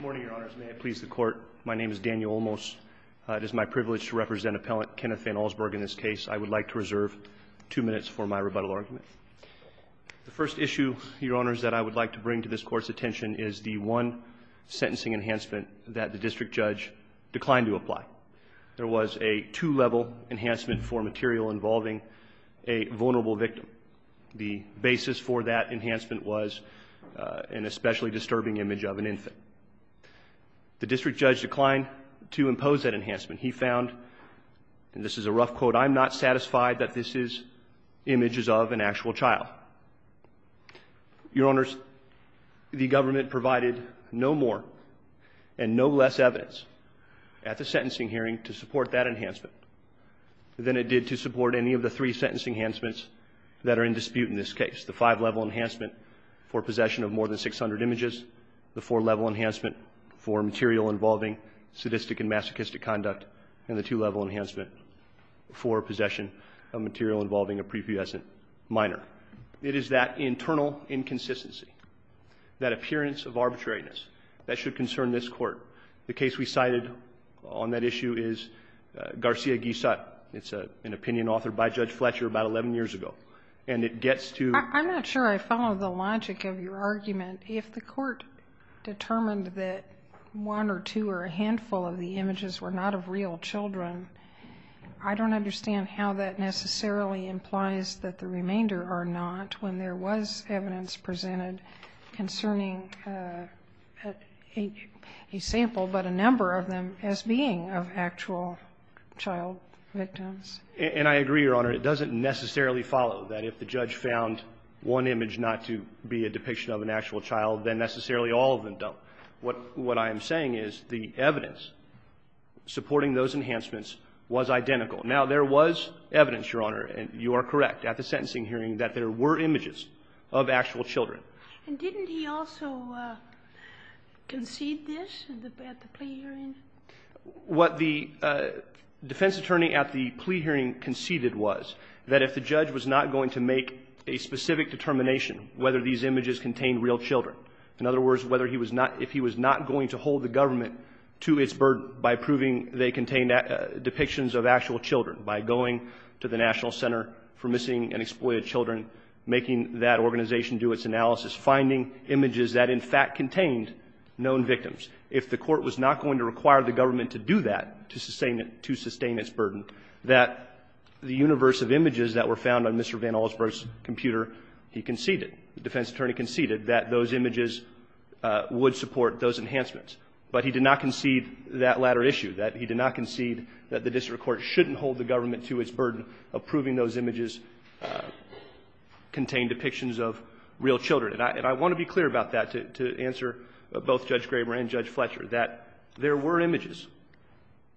in this case. I would like to reserve two minutes for my rebuttal argument. The first issue, Your Honors, that I would like to bring to this Court's attention is the one sentencing enhancement that the District Judge declined to apply. There was a two-level enhancement for material involving a vulnerable victim. The basis for that enhancement The second enhancement was a two-level enhancement for material The District Judge declined to impose that enhancement. He found and this is a rough quote, I'm not satisfied that this is images of an actual child. Your Honors, the government provided no more and no less evidence at the sentencing hearing to support that enhancement than it did to support any of the three sentencing enhancements that are in dispute in this case. The five-level enhancement for possession of more than 600 images, the four-level enhancement for material involving sadistic and masochistic conduct, and the two-level enhancement for possession of material involving a prepubescent minor. It is that internal inconsistency, that appearance of arbitrariness that should concern this Court. The case we cited on that issue is Garcia-Guisat. It's an opinion authored by Judge Fletcher about 11 years ago. And it gets to I'm not sure I follow the logic of your argument. If the Court determined that one or two or a handful of the images were not of real children, I don't understand how that necessarily implies that the remainder are not when there was evidence presented concerning a sample but a number of them as being of actual child victims. And I agree, Your Honor. It doesn't necessarily follow that if the judge found one image not to be a depiction of an actual child, then necessarily all of them don't. What I am saying is the evidence supporting those enhancements was identical. Now, there was evidence, Your Honor, and you are correct, at the sentencing hearing that there were images of actual children. And didn't he also concede this at the plea hearing? What the defense attorney at the plea hearing conceded was that if the judge was not going to make a specific determination whether these images contained real children, in other words, if he was not going to hold the government to its burden by proving they contained depictions of actual children, by going to the National Center for Missing and Exploited Children, making that organization do its analysis, finding images that in fact contained known victims, if the Court was not going to require the government to do that to sustain its burden, that the universe of images that were found on Mr. Van Allsburg's computer, he conceded, the defense attorney conceded, that those images would support those enhancements. But he did not concede that latter issue, that he did not concede that the district court shouldn't hold the government to its burden of proving those images contained depictions of real children. And I want to be clear about that to answer both Judge Graber and Judge Fletcher, that there were images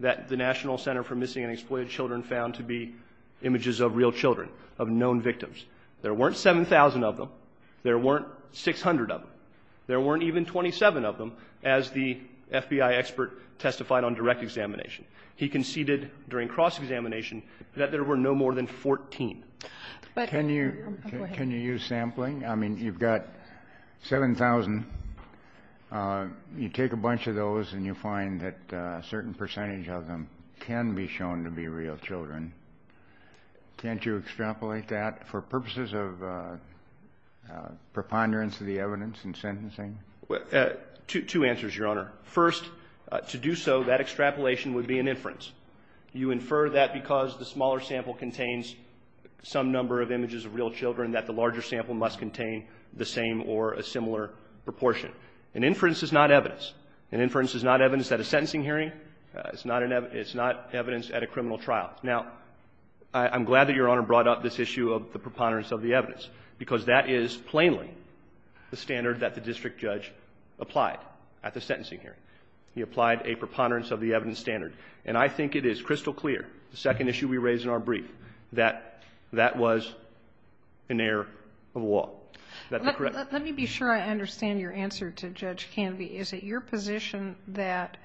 that the National Center for Missing and Exploited Children found to be images of real children, of known victims. There weren't 7,000 of them. There weren't 600 of them. There weren't even 27 of them, as the FBI expert testified on direct examination. He conceded during cross-examination that there were no more than 14. But can you use sampling? I mean, you've got 7,000. You take a bunch of those and you find that a certain percentage of them can be shown to be real children. Can't you extrapolate that for purposes of preponderance of the evidence in sentencing? Two answers, Your Honor. First, to do so, that extrapolation would be an inference. You infer that because the smaller sample contains some number of images of real children, that the larger sample must contain the same or a similar proportion. An inference is not evidence. An inference is not evidence at a sentencing hearing. It's not evidence at a criminal trial. Now, I'm glad that Your Honor brought up this issue of the preponderance of the evidence, because that is plainly the standard that the district judge applied at the sentencing hearing. He applied a preponderance of the evidence standard. And I think it is crystal clear, the second issue we raised in our brief, that that was an error of the law. Let me be sure I understand your answer to Judge Canvey. Is it your position that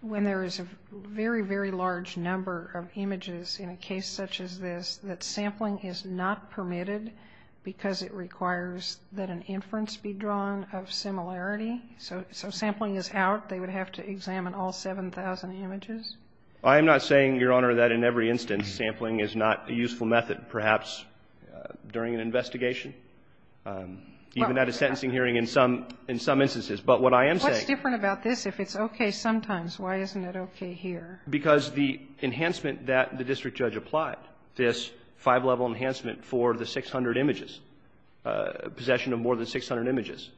when there is a very, very large number of images in a case such as this, that sampling is not permitted because it requires that an inference be drawn of similarity? So sampling is out, they would have to examine all 7,000 images? I am not saying, Your Honor, that in every instance sampling is not a useful method, perhaps during an investigation, even at a sentencing hearing in some instances. But what I am saying – What's different about this if it's okay sometimes? Why isn't it okay here? Because the enhancement that the district judge applied, this five-level enhancement for the 600 images, possession of more than 600 images,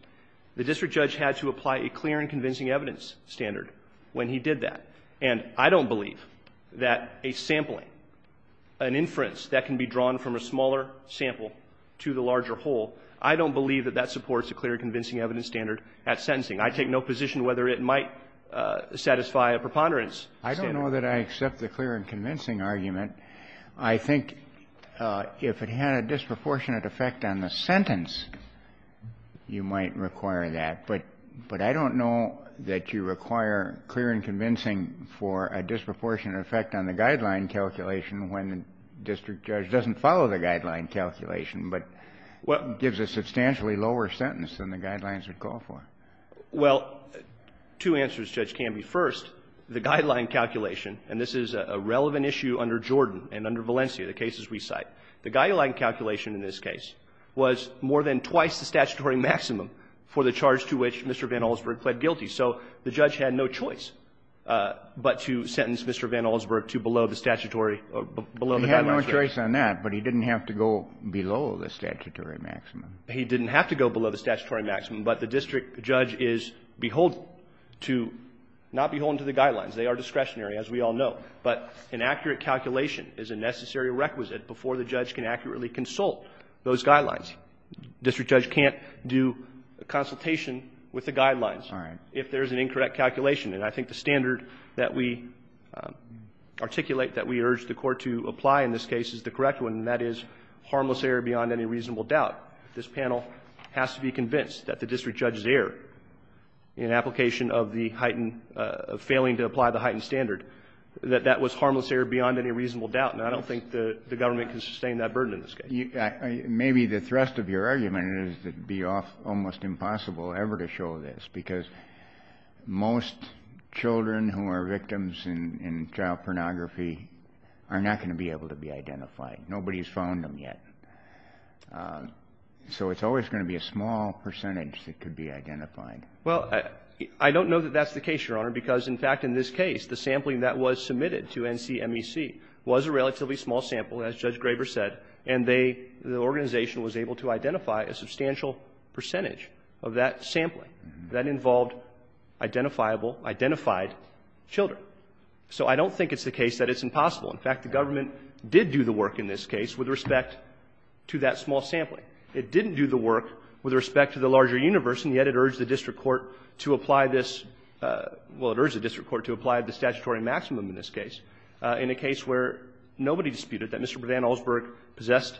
the district judge had to apply a clear and convincing evidence standard when he did that. And I don't believe that a sampling, an inference that can be drawn from a smaller sample to the larger whole, I don't believe that that supports a clear and convincing evidence standard at sentencing. I take no position whether it might satisfy a preponderance standard. I don't know that I accept the clear and convincing argument. I think if it had a disproportionate effect on the sentence, you might require that. But I don't know that you require clear and convincing for a disproportionate effect on the guideline calculation when the district judge doesn't follow the guideline calculation, but gives a substantially lower sentence than the guidelines would call for. Well, two answers, Judge Canby. First, the guideline calculation, and this is a relevant issue under Jordan and under Valencia, the cases we cite, the guideline calculation in this case was more than twice the statutory maximum for the charge to which Mr. Van Allsburg pled guilty. So the judge had no choice but to sentence Mr. Van Allsburg to below the statutory or below the guidelines. He had no choice on that, but he didn't have to go below the statutory maximum. He didn't have to go below the statutory maximum, but the district judge is beholden to, not beholden to the guidelines. They are discretionary, as we all know. But an accurate calculation is a necessary requisite before the judge can accurately consult those guidelines. A district judge can't do a consultation with the guidelines if there is an incorrect calculation. And I think the standard that we articulate that we urge the Court to apply in this case is the correct one, and that is harmless error beyond any reasonable doubt. This panel has to be convinced that the district judge's error in application of the heightened, failing to apply the heightened standard, that that was harmless error beyond any reasonable doubt. And I don't think the government can sustain that burden in this case. Maybe the thrust of your argument is it would be almost impossible ever to show this, because most children who are victims in child pornography are not going to be able to be identified. Nobody has found them yet. So it's always going to be a small percentage that could be identified. Well, I don't know that that's the case, Your Honor, because, in fact, in this case, the sampling that was submitted to NCMEC was a relatively small sample, as Judge Graber said, and they, the organization, was able to identify a substantial percentage of that sampling. That involved identifiable, identified children. So I don't think it's the case that it's impossible. In fact, the government did do the work in this case with respect to that small sampling. It didn't do the work with respect to the larger universe, and yet it urged the district court to apply this – well, it urged the district court to apply the statutory maximum in this case. In a case where nobody disputed that Mr. Van Allsburg possessed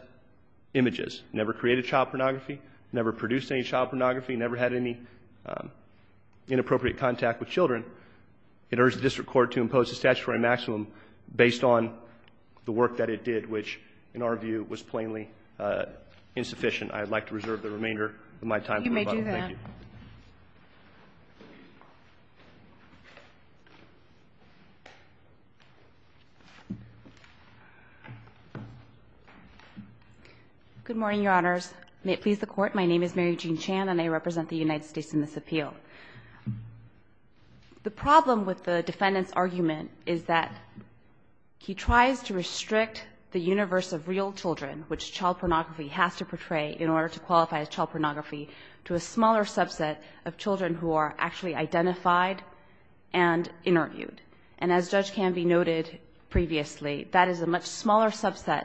images, never created child pornography, never produced any child pornography, never had any inappropriate contact with children, it urged the district court to impose a statutory maximum based on the work that it did, which, in our view, was plainly insufficient. I'd like to reserve the remainder of my time for rebuttal. Thank you. You may do that. Good morning, Your Honors. May it please the Court. My name is Mary Jean Chan, and I represent the United States in this appeal. The problem with the defendant's argument is that he tries to restrict the universe of real children, which child pornography has to portray in order to qualify as child pornography, to a smaller subset of children who are actually identified and interviewed. And as Judge Canvey noted previously, that is a much smaller subset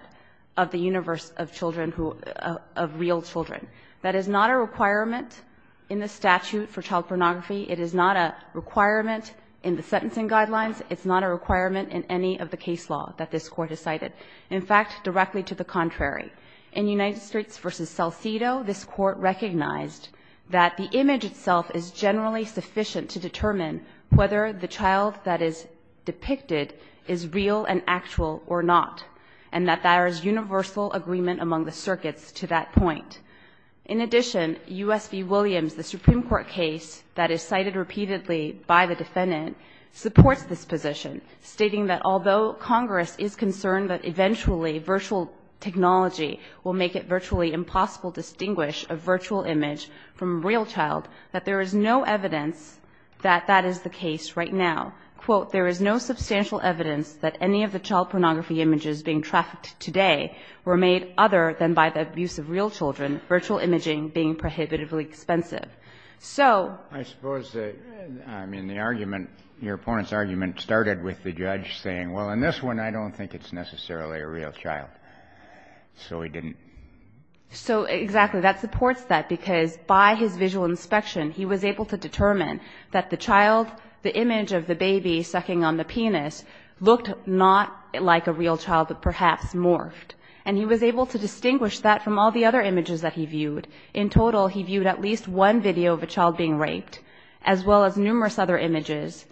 of the universe of children who – of real children. That is not a requirement in the statute for child pornography. It is not a requirement in the sentencing guidelines. It's not a requirement in any of the case law that this Court has cited. In fact, directly to the contrary. In United States v. Salcido, this Court recognized that the image itself is generally sufficient to determine whether the child that is depicted is real and actual or not, and that there is universal agreement among the circuits to that point. In addition, U.S. v. Williams, the Supreme Court case that is cited repeatedly by the defendant, supports this position, stating that although Congress is concerned that eventually virtual technology will make it virtually impossible to distinguish a virtual image from a real child, that there is no evidence that that is the case right now. Quote, there is no substantial evidence that any of the child pornography images being prohibitively expensive. So – I suppose the – I mean, the argument – your opponent's argument started with the judge saying, well, in this one, I don't think it's necessarily a real child. So he didn't – So exactly. That supports that, because by his visual inspection, he was able to determine that the child – the image of the baby sucking on the penis looked not like a real child, but perhaps morphed. And he was able to distinguish that from all the other images that he viewed. In total, he viewed at least one video of a child being raped, as well as numerous other images,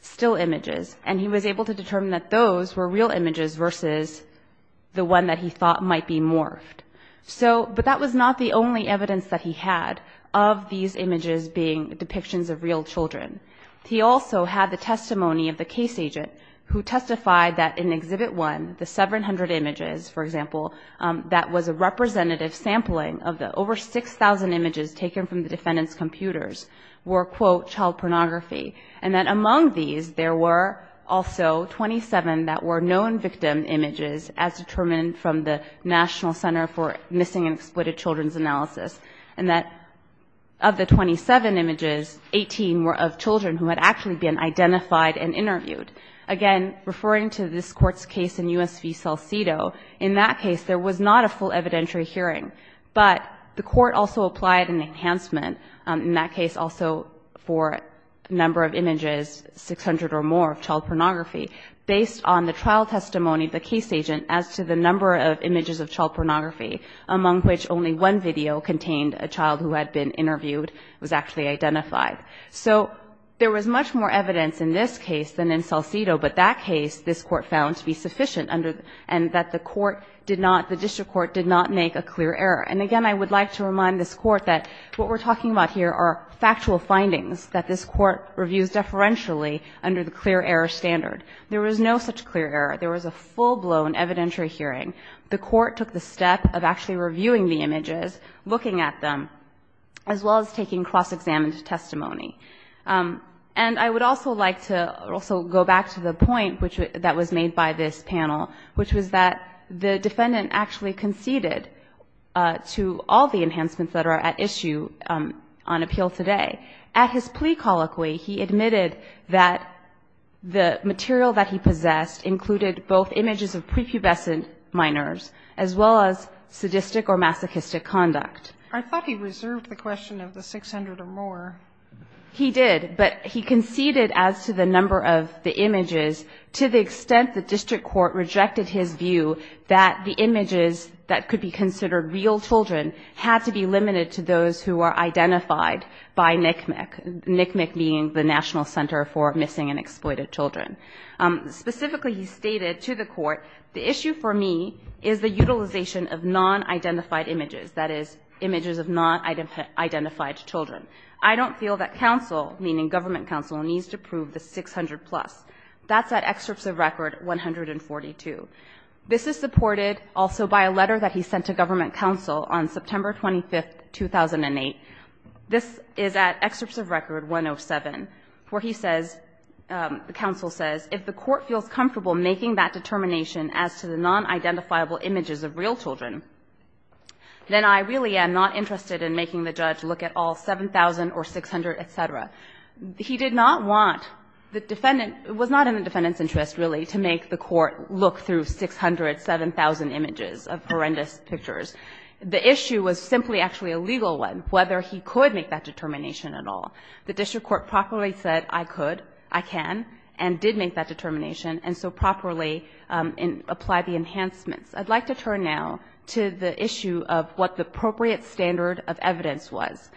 still images. And he was able to determine that those were real images versus the one that he thought might be morphed. So – but that was not the only evidence that he had of these images being depictions of real children. He also had the testimony of the case agent, who testified that in Exhibit 1, the 700 images, for example, that was a representative sampling of the over 6,000 images taken from the defendant's computers were, quote, child pornography. And that among these, there were also 27 that were known victim images, as determined from the National Center for Missing and Exploited Children's Analysis. And that of the 27 images, 18 were of children who had actually been identified and interviewed. Again, referring to this Court's case in U.S. v. Salcido, in that case, there was not a full evidentiary hearing. But the Court also applied an enhancement, in that case also for a number of images, 600 or more, of child pornography, based on the trial testimony of the case agent as to the number of images of child pornography, among which only one video contained a child who had been interviewed, was actually identified. So there was much more evidence in this case than in Salcido, but that case, this Court found to be sufficient under, and that the court did not, the district court did not make a clear error. And again, I would like to remind this Court that what we're talking about here are factual findings that this Court reviews deferentially under the clear error standard. There was no such clear error. There was a full-blown evidentiary hearing. The Court took the step of actually reviewing the images, looking at them, as well as taking cross-examined testimony. And I would also like to also go back to the point that was made by this panel, which was that the defendant actually conceded to all the enhancements that are at issue on appeal today. At his plea colloquy, he admitted that the material that he possessed included both images of prepubescent minors as well as sadistic or masochistic conduct. Sotomayor, I thought he reserved the question of the 600 or more. He did, but he conceded as to the number of the images to the extent the district court rejected his view that the images that could be considered real children had to be limited to those who are identified by NCMEC, NCMEC being the National Center for Missing and Exploited Children. Specifically, he stated to the court, the issue for me is the utilization of non-identified images, that is, images of non-identified children. I don't feel that counsel, meaning government counsel, needs to prove the 600-plus. That's at Excerpts of Record 142. This is supported also by a letter that he sent to government counsel on September 25, 2008. This is at Excerpts of Record 107, where he says, the counsel says, if the court feels comfortable making that determination as to the non-identifiable images of real children, then I really am not interested in making the judge look at all 7,000 or 600, et cetera. He did not want the defendant — was not in the defendant's interest, really, to make the court look through 600, 7,000 images of horrendous pictures. The issue was simply actually a legal one, whether he could make that determination at all. The district court properly said, I could, I can, and did make that determination, and so properly apply the enhancements. I'd like to turn now to the issue of what the appropriate standard of evidence was.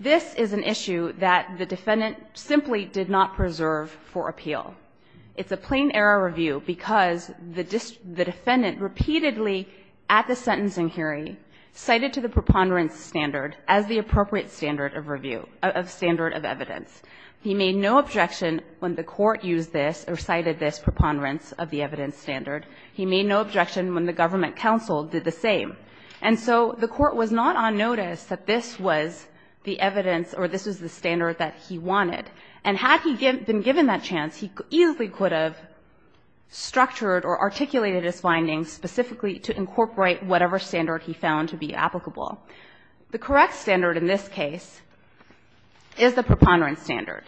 This is an issue that the defendant simply did not preserve for appeal. It's a plain-error review because the defendant repeatedly, at the sentencing hearing, cited to the preponderance standard as the appropriate standard of review — of standard of evidence. He made no objection when the court used this or cited this preponderance of the evidence standard. He made no objection when the government counsel did the same. And so the court was not on notice that this was the evidence or this was the standard that he wanted. And had he been given that chance, he easily could have structured or articulated his findings specifically to incorporate whatever standard he found to be applicable. The correct standard in this case is the preponderance standard.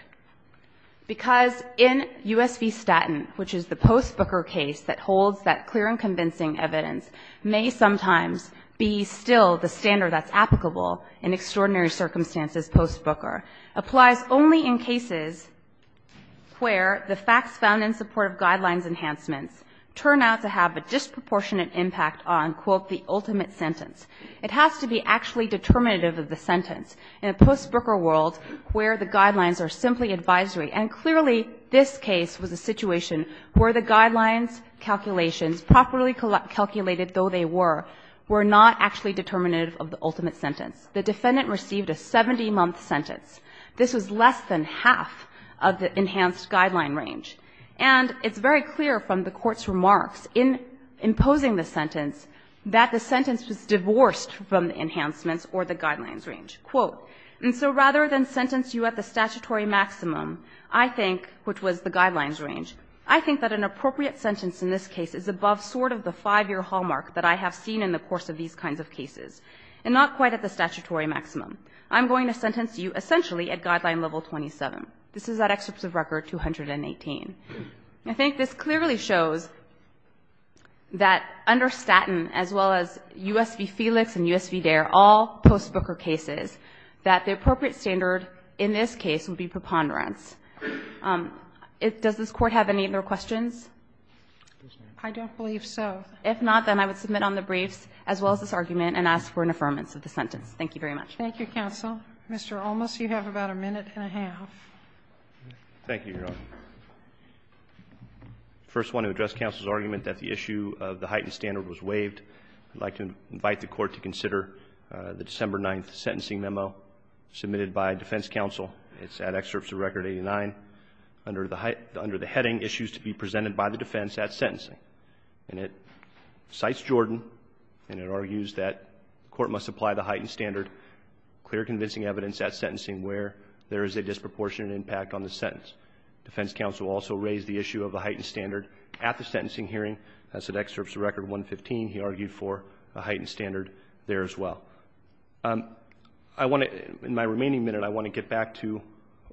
Because in U.S. v. Statton, which is the post-Booker case that holds that clear and convincing evidence, may sometimes be still the standard that's applicable in extraordinary circumstances post-Booker, applies only in cases where the facts found in support of guidelines enhancements turn out to have a disproportionate impact on, quote, the ultimate sentence. It has to be actually determinative of the sentence. In a post-Booker world where the guidelines are simply advisory, and clearly this case was a situation where the guidelines calculations, properly calculated though they were, were not actually determinative of the ultimate sentence. The defendant received a 70-month sentence. This was less than half of the enhanced guideline range. And it's very clear from the Court's remarks in imposing the sentence that the sentence was divorced from the enhancements or the guidelines range. Quote, and so rather than sentence you at the statutory maximum, I think, which was the guidelines range, I think that an appropriate sentence in this case is above sort of the 5-year hallmark that I have seen in the course of these kinds of cases and not quite at the statutory maximum. I'm going to sentence you essentially at guideline level 27. This is that excerpt of record 218. I think this clearly shows that under Staten as well as U.S. v. Felix and U.S. v. Dare, all post-Booker cases, that the appropriate standard in this case would be preponderance. Does this Court have any other questions? I don't believe so. If not, then I would submit on the briefs as well as this argument and ask for an affirmance of the sentence. Thank you very much. Thank you, counsel. Thank you, Your Honor. I first want to address counsel's argument that the issue of the heightened standard was waived. I'd like to invite the Court to consider the December 9th sentencing memo submitted by defense counsel. It's that excerpt of record 89. Under the heading, issues to be presented by the defense at sentencing. And it cites Jordan, and it argues that court must apply the heightened standard, clear convincing evidence at sentencing where there is a disproportionate impact on the sentence. Defense counsel also raised the issue of the heightened standard at the sentencing hearing. That's an excerpt from record 115. He argued for a heightened standard there as well. I want to, in my remaining minute, I want to get back to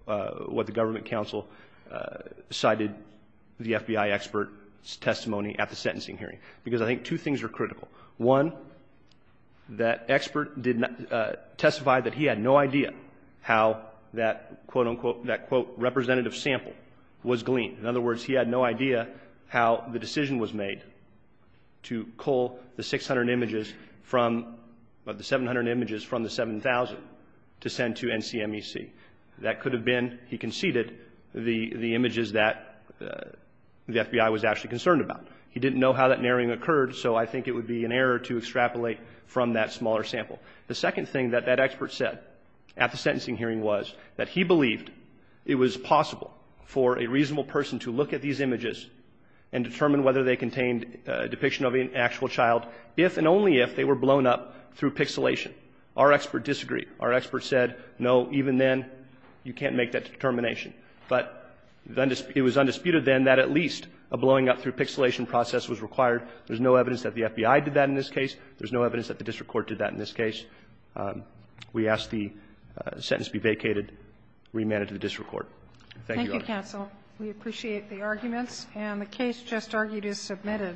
what the government counsel cited the FBI expert's testimony at the sentencing hearing. Because I think two things are critical. One, that expert testified that he had no idea how that, quote, unquote, that, quote, representative sample was gleaned. In other words, he had no idea how the decision was made to cull the 600 images from the 700 images from the 7,000 to send to NCMEC. That could have been, he conceded, the images that the FBI was actually concerned about. He didn't know how that narrowing occurred, so I think it would be an error to extrapolate from that smaller sample. The second thing that that expert said at the sentencing hearing was that he believed it was possible for a reasonable person to look at these images and determine whether they contained a depiction of an actual child if and only if they were blown up through pixelation. Our expert disagreed. Our expert said, no, even then, you can't make that determination. But it was undisputed, then, that at least a blowing up through pixelation process was required. There's no evidence that the FBI did that in this case. There's no evidence that the district court did that in this case. We ask the sentence be vacated, remand it to the district court. Thank you, Your Honor. Thank you, counsel. We appreciate the arguments. And the case just argued is submitted.